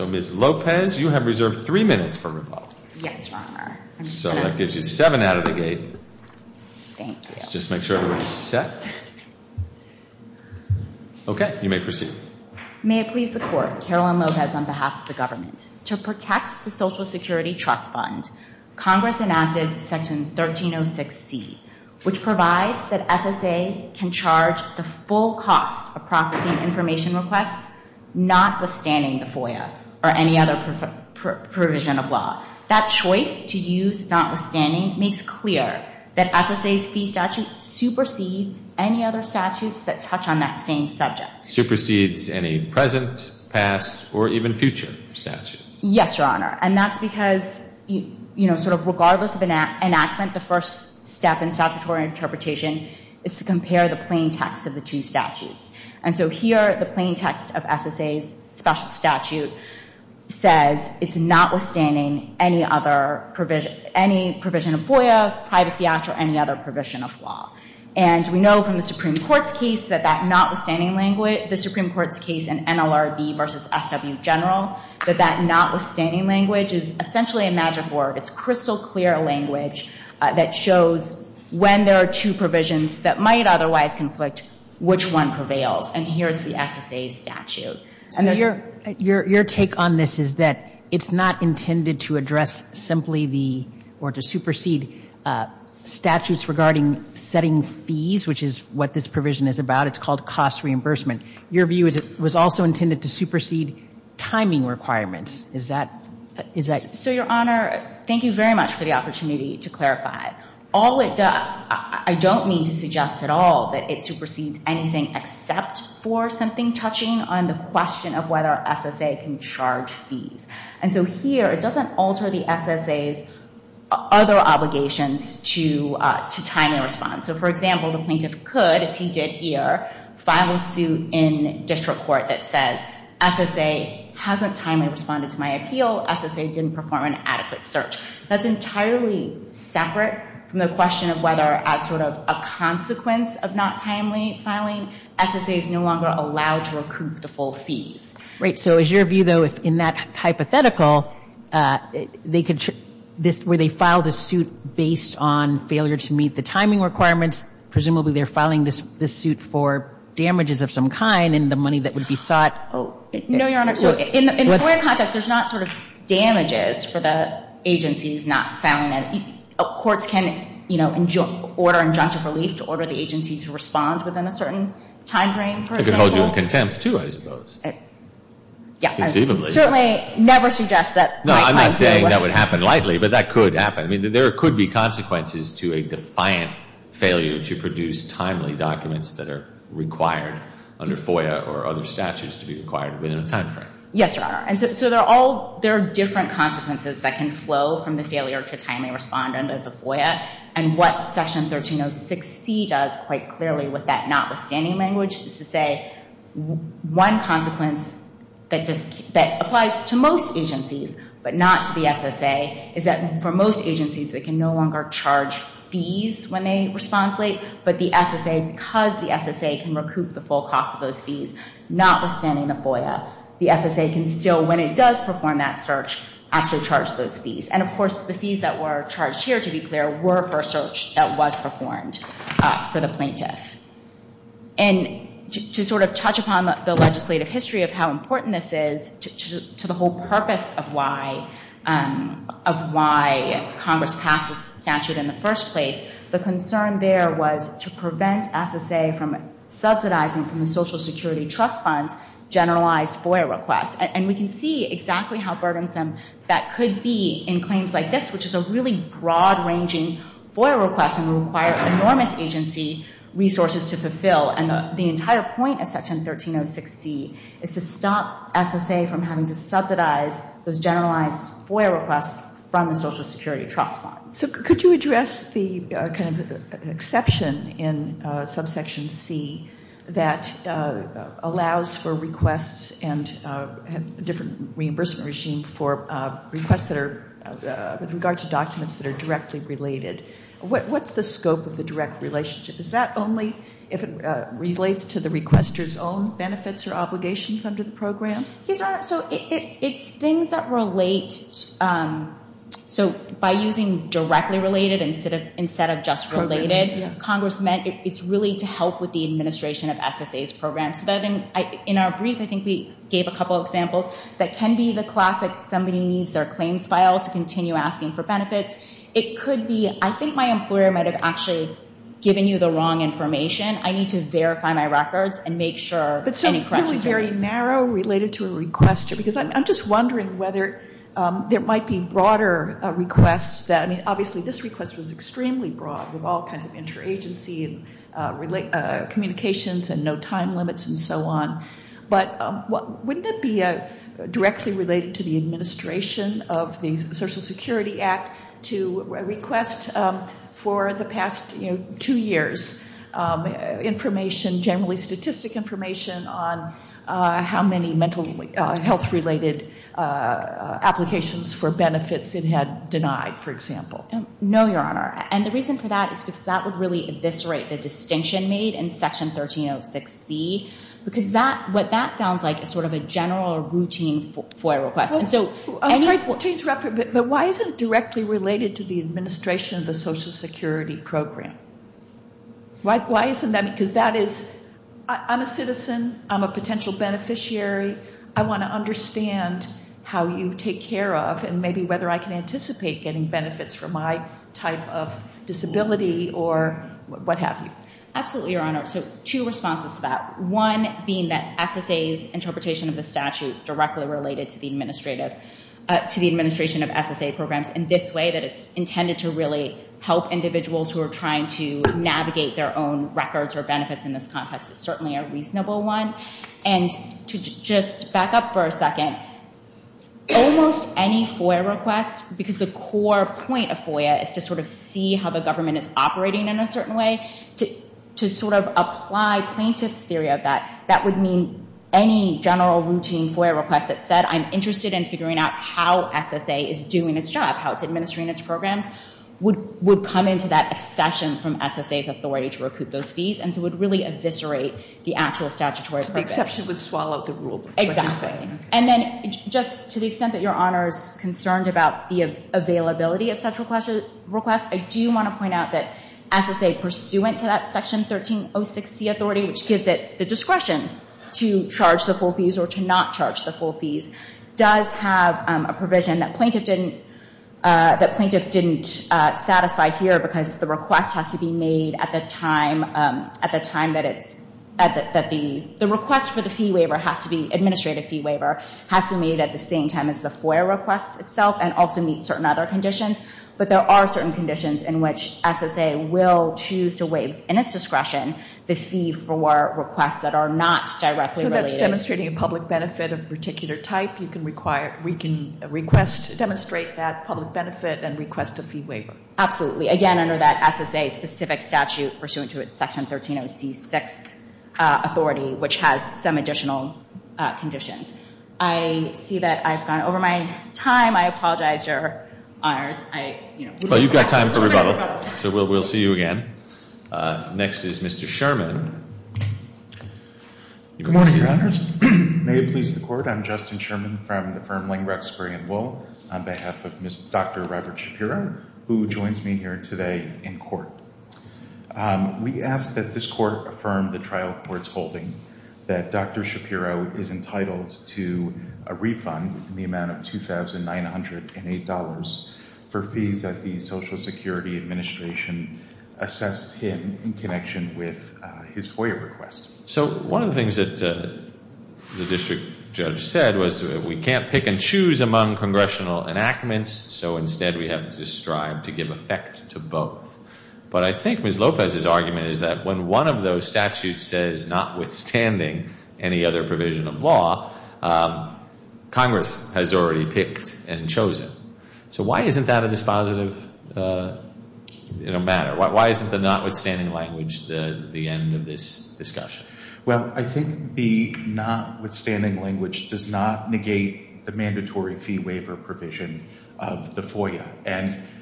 Ms. Lopez, you have reserved three minutes for rebuttal. Yes, Your Honor. So that gives you seven out of the gate. Thank you. Let's just make sure everybody's set. Okay, you may proceed. May it please the Court, Caroline Lopez on behalf of the government, to protect the Social Security Trust Fund, Congress enacted Section 1306c, which provides that SSA, SSA, SSA, SSA, SSA, SSA, and SSA can charge the full cost of processing information requests not withstanding FOIA or any other provision of law. That choice to use notwithstanding makes clear that SSA's fee statute supersedes any other statutes that touch on that same subject. Supersedes any present, past, or even future statutes. Yes, Your Honor, and that's because, you know, sort of regardless of enactment, the first step in statutory interpretation is to compare the plain text of the two statutes. And so here, the plain text of SSA's special statute says it's notwithstanding any other provision, any provision of FOIA, Privacy Act, or any other provision of law. And we know from the Supreme Court's case that that notwithstanding language, the Supreme Court's case in NLRB versus SW General, that that notwithstanding language is essentially a magic word. It's crystal-clear language that shows when there are two provisions that might otherwise conflict, which one prevails. And here is the SSA's statute. And there's not going to be any other provision of law that's going to be used to address simply the, or to supersede, statutes regarding setting fees, which is what this provision is about. It's called cost reimbursement. Your view is it was also intended to supersede timing requirements. Is that, is that? So Your Honor, thank you very much for the opportunity to clarify. All it does, I don't mean to suggest at all that it supersedes anything except for something touching on the question of whether SSA can charge fees. And so here, it doesn't alter the SSA's other obligations to timely response. So for example, the plaintiff could, as he did here, file a suit in district court until SSA didn't perform an adequate search. That's entirely separate from the question of whether, as sort of a consequence of not timely filing, SSA is no longer allowed to recoup the full fees. Right. So is your view, though, if in that hypothetical, they could, this, where they file the suit based on failure to meet the timing requirements, presumably they're filing this, this suit for damages of some kind and the money that would be sought. Oh. No, Your Honor. So in FOIA context, there's not sort of damages for the agencies not filing that. Courts can, you know, order injunctive relief to order the agency to respond within a certain time frame, for example. They could hold you in contempt, too, I suppose. Yeah. Presumably. I certainly never suggest that. No, I'm not saying that would happen lightly, but that could happen. I mean, there could be consequences to a defiant failure to produce timely documents that are required under FOIA or other statutes to be required within a time frame. Yes, Your Honor. And so, so they're all, there are different consequences that can flow from the failure to timely respond under the FOIA. And what Section 1306C does quite clearly with that notwithstanding language is to say one consequence that does, that applies to most agencies, but not to the SSA, is that for most agencies, they can no longer charge fees when they respond late. But the SSA, because the SSA can recoup the full cost of those fees, notwithstanding the FOIA, the SSA can still, when it does perform that search, actually charge those fees. And of course, the fees that were charged here, to be clear, were for a search that was performed for the plaintiff. And to sort of touch upon the legislative history of how important this is to the whole purpose of why Congress passed this statute in the first place, the concern there was to prevent SSA from subsidizing from the Social Security Trust Fund's generalized FOIA requests. And we can see exactly how burdensome that could be in claims like this, which is a really broad-ranging FOIA request and will require enormous agency resources to fulfill. And the entire point of Section 1306C is to stop SSA from having to subsidize those generalized FOIA requests from the Social Security Trust Fund. So could you address the kind of exception in Subsection C that allows for requests and different reimbursement regime for requests that are, with regard to documents that are directly related. What's the scope of the direct relationship? Is that only if it relates to the requester's own benefits or obligations under the program? Yes, Your Honor. So it's things that relate. So by using directly related instead of just related, Congress meant it's really to help with the administration of SSA's programs. In our brief, I think we gave a couple examples that can be the classic, somebody needs their claims file to continue asking for benefits. It could be, I think my employer might have actually given you the wrong information. I need to verify my records and make sure any corrections are made. But so it's really very narrow related to a requester. Because I'm just wondering whether there might be broader requests that, I mean, obviously this request was extremely broad with all kinds of interagency and communications and no time limits and so on. But wouldn't it be directly related to the administration of the Social Security Act to request for the past two years information, generally statistic information, on how many mental health related applications for benefits it had denied, for example? No, Your Honor. And the reason for that is because that would really eviscerate the distinction made in Section 1306C. Because what that sounds like is sort of a general routine FOIA request. I'm sorry to interrupt you, but why isn't it directly related to the administration of the Social Security program? Why isn't that? Because that is, I'm a citizen, I'm a potential beneficiary. I want to understand how you take care of and maybe whether I can anticipate getting benefits for my type of disability or what have you. Absolutely, Your Honor. So two responses to that. One being that SSA's interpretation of the statute directly related to the administration of SSA programs in this way, that it's intended to really help individuals who are trying to navigate their own records or benefits in this context is certainly a reasonable one. And to just back up for a second, almost any FOIA request, because the core point of FOIA is to sort of see how the government is operating in a certain way, to sort of apply plaintiff's theory of that, that would mean any general routine FOIA request that said, I'm interested in figuring out how SSA is doing its job, how it's administering its programs, would come into that accession from SSA's authority to recoup those fees and so would really eviscerate the actual statutory purpose. The exception would swallow the rule. Exactly. And then just to the extent that Your Honor is concerned about the availability of such requests, I do want to point out that SSA pursuant to that Section 1306C authority, which gives it the discretion to charge the full fees or to not charge the full fees, does have a provision that plaintiff didn't satisfy here because the request has to be made at the time that it's, the request for the fee waiver has to be, administrative fee waiver, has to be made at the same time as the FOIA request itself and also meets certain other conditions, but there are certain conditions in which SSA will choose to waive in its discretion the fee for requests that are not directly related. So that's demonstrating a public benefit of a particular type. You can request, demonstrate that public benefit and request a fee waiver. Absolutely. Again, under that SSA specific statute pursuant to its Section 1306 authority, which has some additional conditions. I see that I've gone over my time. I apologize, Your Honors. I, you know. Well, you've got time for rebuttal. So we'll see you again. Next is Mr. Sherman. Good morning, Your Honors. May it please the Court. I'm Justin Sherman from the firm Lang, Ruxbury & Wool on behalf of Dr. Robert Shapiro, who joins me here today in court. We ask that this court affirm the trial court's holding that Dr. Shapiro is entitled to a connection with his FOIA request. So one of the things that the district judge said was that we can't pick and choose among congressional enactments, so instead we have to strive to give effect to both. But I think Ms. Lopez's argument is that when one of those statutes says notwithstanding any other provision of law, Congress has already picked and chosen. So why isn't that a dispositive matter? Why isn't the notwithstanding language the end of this discussion? Well, I think the notwithstanding language does not negate the mandatory fee waiver provision of the FOIA.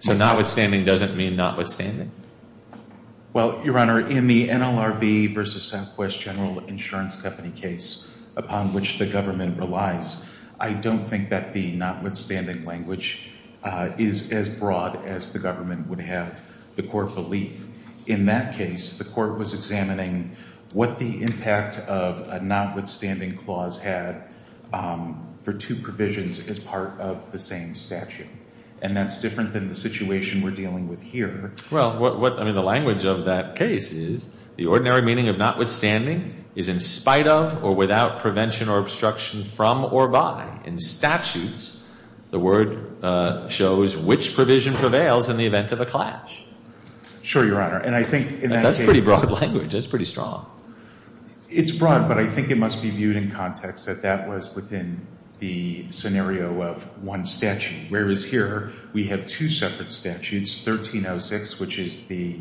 So notwithstanding doesn't mean notwithstanding? Well, Your Honor, in the NLRB v. Southwest General Insurance Company case upon which the government relies, I don't think that the notwithstanding language is as broad as the government would have the court believe. In that case, the court was examining what the impact of a notwithstanding clause had for two provisions as part of the same statute. And that's different than the situation we're dealing with here. Well, what, I mean, the language of that case is the ordinary meaning of notwithstanding is in spite of or without prevention or obstruction from or by. In statutes, the word shows which provision prevails in the event of a clash. Sure, Your Honor. And I think in that case That's pretty broad language. That's pretty strong. It's broad, but I think it must be viewed in context that that was within the scenario of one statute, whereas here we have two separate statutes, 1306, which is the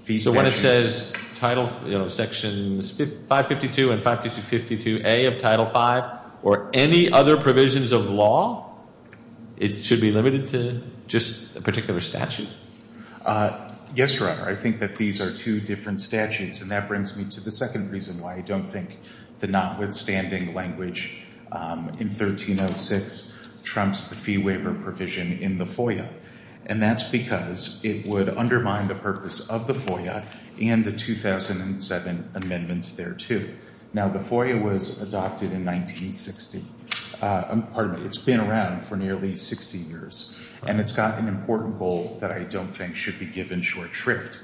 fee statute So when it says Title, you know, Sections 552 and 552A of Title V or any other provisions of law, it should be limited to just a particular statute? Yes, Your Honor. I think that these are two different statutes, and that brings me to the second reason why I don't think the notwithstanding language in 1306 trumps the fee waiver provision in the FOIA. And that's because it would undermine the purpose of the FOIA and the 2007 amendments thereto. Now, the FOIA was adopted in 1960, pardon me, it's been around for nearly 60 years, and it's got an important goal that I don't think should be given short shrift.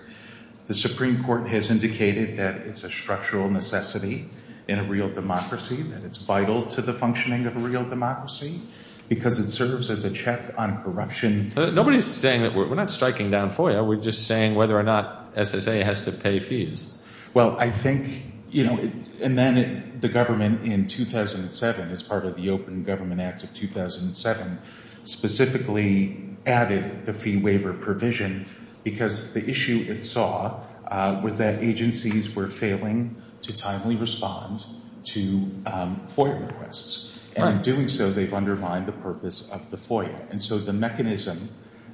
The Supreme Court has indicated that it's a structural necessity in a real democracy, that it's vital to the functioning of a real democracy because it serves as a check on corruption. Nobody's saying that we're not striking down FOIA, we're just saying whether or not SSA has to pay fees. Well, I think, you know, and then the government in 2007, as part of the Open Government Act of 2007, specifically added the fee waiver provision because the issue it saw was that agencies were failing to timely respond to FOIA requests, and in doing so they've undermined the purpose of the FOIA. And so the mechanism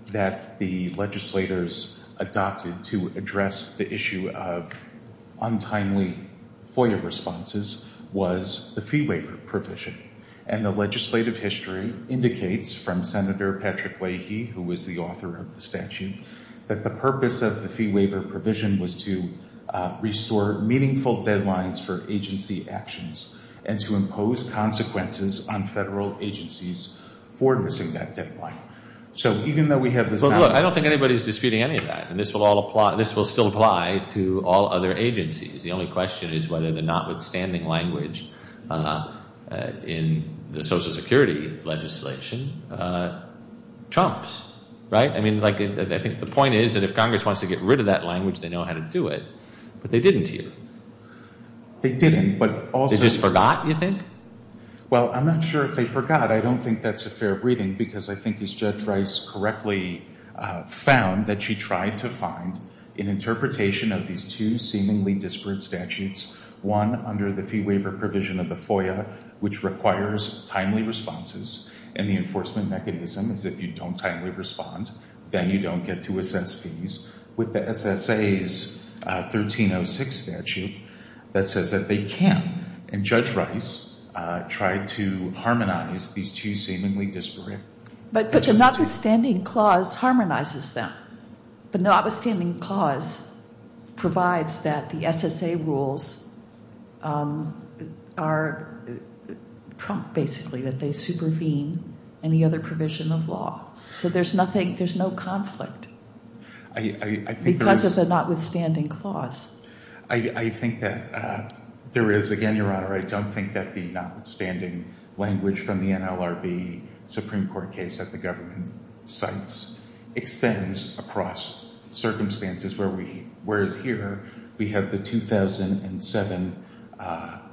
that the legislators adopted to address the issue of untimely FOIA responses was the fee waiver provision. And the legislative history indicates from Senator Patrick Leahy, who was the author of the statute, that the purpose of the fee waiver provision was to restore meaningful So even though we have this now... Well, look, I don't think anybody's disputing any of that, and this will still apply to all other agencies. The only question is whether the notwithstanding language in the Social Security legislation chomps. Right? I mean, like, I think the point is that if Congress wants to get rid of that language, they know how to do it. But they didn't here. They didn't, but also... They just forgot, you think? Well, I'm not sure if they forgot. I don't think that's a fair reading, because I think as Judge Rice correctly found, that she tried to find an interpretation of these two seemingly disparate statutes, one under the fee waiver provision of the FOIA, which requires timely responses, and the enforcement mechanism is if you don't timely respond, then you don't get to assess fees. With the SSA's 1306 statute, that says that they can. And Judge Rice tried to harmonize these two seemingly disparate... But the notwithstanding clause harmonizes them, but the notwithstanding clause provides that the SSA rules are trumped, basically, that they supervene any other provision of law. So there's nothing... There's no conflict because of the notwithstanding clause. I think that there is, again, Your Honor, I don't think that the notwithstanding language from the NLRB Supreme Court case that the government cites extends across circumstances where we... Whereas here, we have the 2007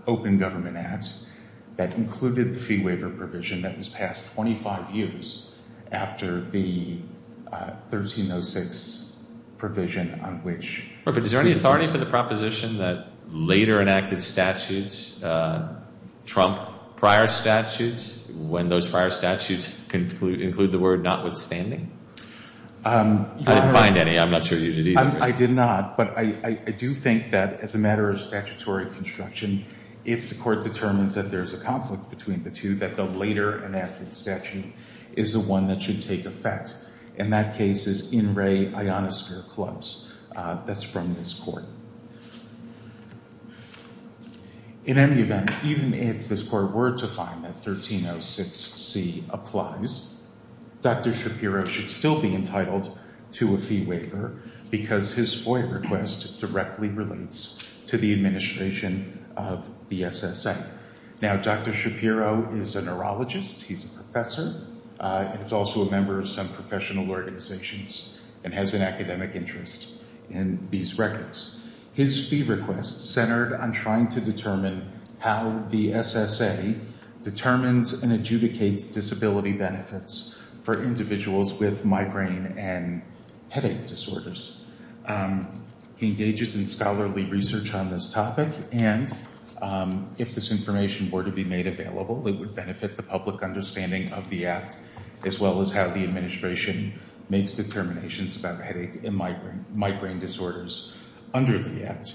Open Government Act that included the fee waiver provision that was passed 25 years after the 1306 provision on which... But is there any authority for the proposition that later enacted statutes trump prior statutes when those prior statutes include the word notwithstanding? I didn't find any. I'm not sure you did either. I did not. But I do think that as a matter of statutory construction, if the court determines that there's a conflict between the two, that the later enacted statute is the one that should take effect. And that case is In Re Ionosphere Clubs. That's from this court. In any event, even if this court were to find that 1306C applies, Dr. Shapiro should still be entitled to a fee waiver because his FOIA request directly relates to the administration of the SSA. Now, Dr. Shapiro is a neurologist. He's a professor. He's also a member of some professional organizations and has an academic interest in these records. His fee request centered on trying to determine how the SSA determines and adjudicates disability benefits for individuals with migraine and headache disorders. He engages in scholarly research on this topic, and if this information were to be made available, it would benefit the public understanding of the act as well as how the administration makes determinations about headache and migraine disorders under the act.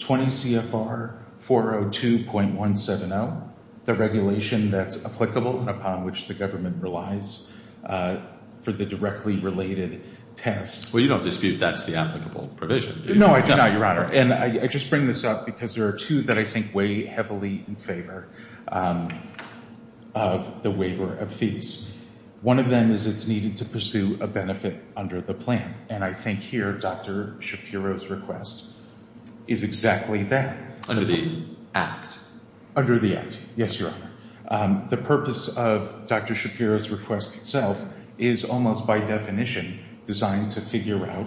20 CFR 402.170, the regulation that's applicable and upon which the government relies for the directly related test. Well, you don't dispute that's the applicable provision. No, I do not, Your Honor. And I just bring this up because there are two that I think weigh heavily in favor of the waiver of fees. One of them is it's needed to pursue a benefit under the plan, and I think here Dr. Shapiro's request is exactly that. Under the act. Under the act. Yes, Your Honor. The purpose of Dr. Shapiro's request itself is almost by definition designed to figure out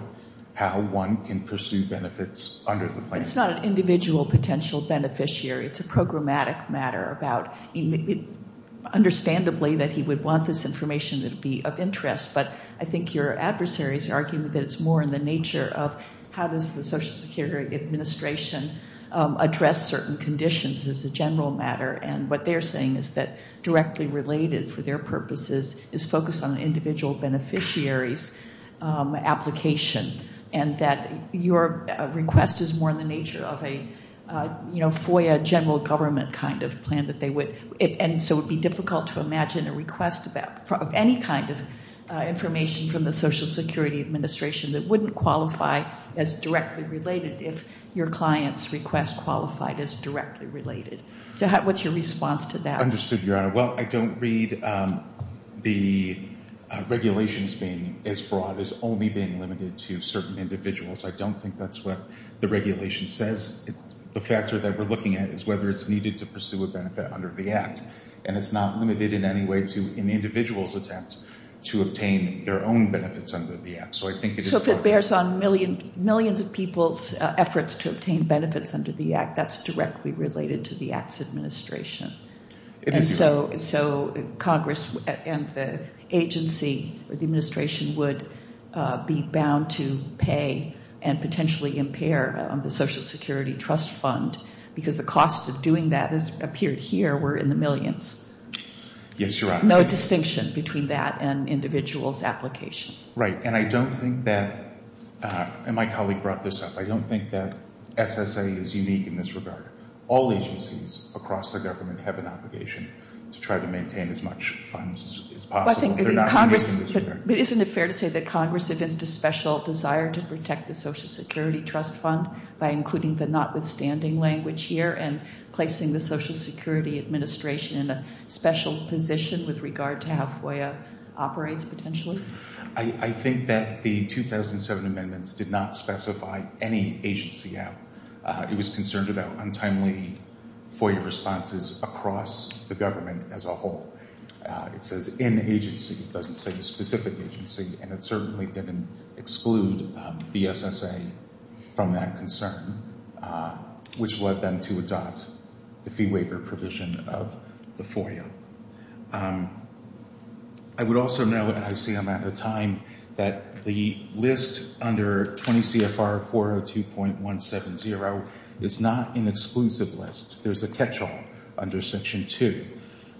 how one can pursue benefits under the plan. It's not an individual potential beneficiary. It's a programmatic matter about, understandably, that he would want this information to be of interest, but I think your adversaries are arguing that it's more in the nature of how does the Social Security Administration address certain conditions as a general matter, and what they're saying is that directly related for their purposes is focused on individual beneficiaries' application, and that your request is more in the nature of a FOIA general government kind of plan, and so it would be difficult to imagine a request of any kind of information from the Social Security Administration that wouldn't qualify as directly related if your client's request qualified as directly related. So what's your response to that? Understood, Your Honor. Well, I don't read the regulations being as broad as only being limited to certain individuals. I don't think that's what the regulation says. The factor that we're looking at is whether it's needed to pursue a benefit under the act, and it's not limited in any way to an individual's attempt to obtain their own benefits under the act. So I think it is... So if it bears on millions of people's efforts to obtain benefits under the act, that's directly related to the Act's administration. And so Congress and the agency or the administration would be bound to pay and potentially impair the Social Security Trust Fund, because the costs of doing that, as appeared here, were in the millions. Yes, Your Honor. No distinction between that and individual's application. Right, and I don't think that, and my colleague brought this up, I don't think that SSA is All agencies across the government have an obligation to try to maintain as much funds as possible. They're not using this here. But isn't it fair to say that Congress evinced a special desire to protect the Social Security Trust Fund by including the notwithstanding language here and placing the Social Security Administration in a special position with regard to how FOIA operates, potentially? I think that the 2007 amendments did not specify any agency out. It was concerned about untimely FOIA responses across the government as a whole. It says in agency, it doesn't say the specific agency, and it certainly didn't exclude the SSA from that concern, which led them to adopt the fee waiver provision of the FOIA. I would also note, and I see I'm out of time, that the list under 20 CFR 402.170 is not an exclusive list. There's a catch-all under Section 2,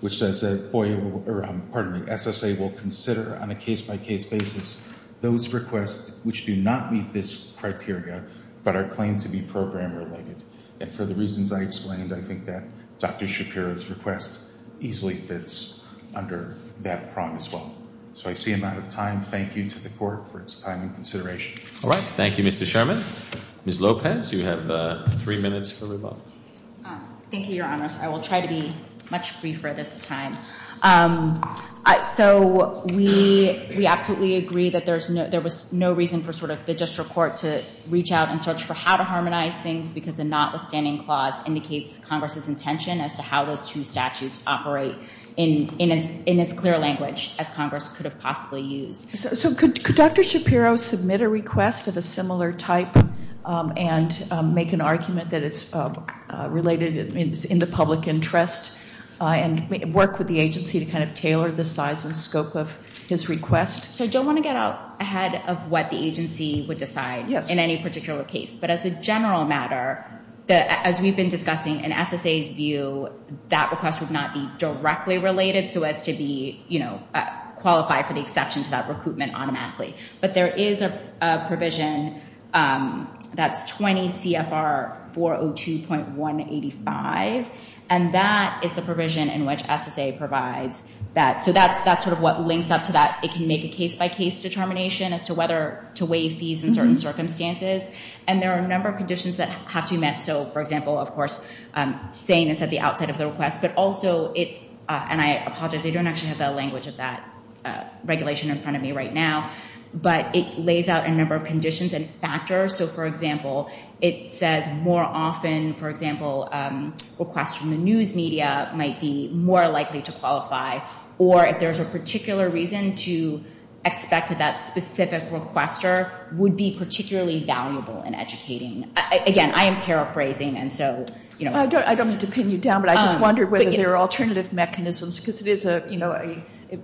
which says that SSA will consider on a case-by-case basis those requests which do not meet this criteria but are claimed to be program-related. And for the reasons I explained, I think that Dr. Shapiro's request easily fits under that prong as well. So I see I'm out of time. Thank you to the Court for its time and consideration. All right. Thank you, Mr. Sherman. Ms. Lopez, you have three minutes for rebuttal. Thank you, Your Honors. I will try to be much briefer this time. So we absolutely agree that there was no reason for the district court to reach out and search for how to harmonize things because a notwithstanding clause indicates Congress's intention as to how those two statutes operate in as clear a language as Congress could have possibly used. So could Dr. Shapiro submit a request of a similar type and make an argument that it's related in the public interest and work with the agency to kind of tailor the size and scope of his request? So I don't want to get ahead of what the agency would decide in any particular case. But as a general matter, as we've been discussing, in SSA's view, that request would not be directly related so as to qualify for the exception to that recruitment automatically. But there is a provision that's 20 CFR 402.185, and that is the provision in which SSA provides that. So that's sort of what links up to that. It can make a case-by-case determination as to whether to waive fees in certain circumstances. And there are a number of conditions that have to be met. So for example, of course, saying this at the outside of the request, but also it, and I apologize, I don't actually have the language of that regulation in front of me right now, but it lays out a number of conditions and factors. So for example, it says more often, for example, requests from the news media might be more likely to qualify, or if there's a particular reason to expect that specific requester would be particularly valuable in educating. Again, I am paraphrasing. And so, you know. I don't, I don't mean to pin you down, but I just wondered whether there are alternative mechanisms because it is a, you know,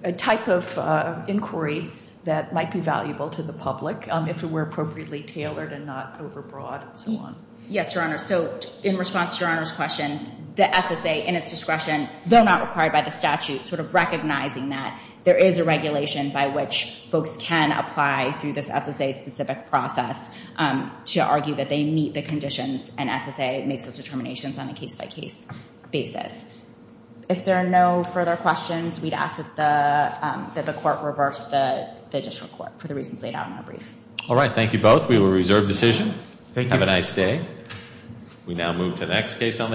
a type of inquiry that might be valuable to the public if it were appropriately tailored and not overbroad and so on. Yes, Your Honor. So in response to Your Honor's question, the SSA in its discretion, though not required by the statute, sort of recognizing that there is a regulation by which folks can apply through this SSA-specific process to argue that they meet the conditions and SSA makes those determinations on a case-by-case basis. If there are no further questions, we'd ask that the court reverse the additional court for the reasons laid out in our brief. All right. Thank you both. We will reserve decision. Thank you. Have a nice day.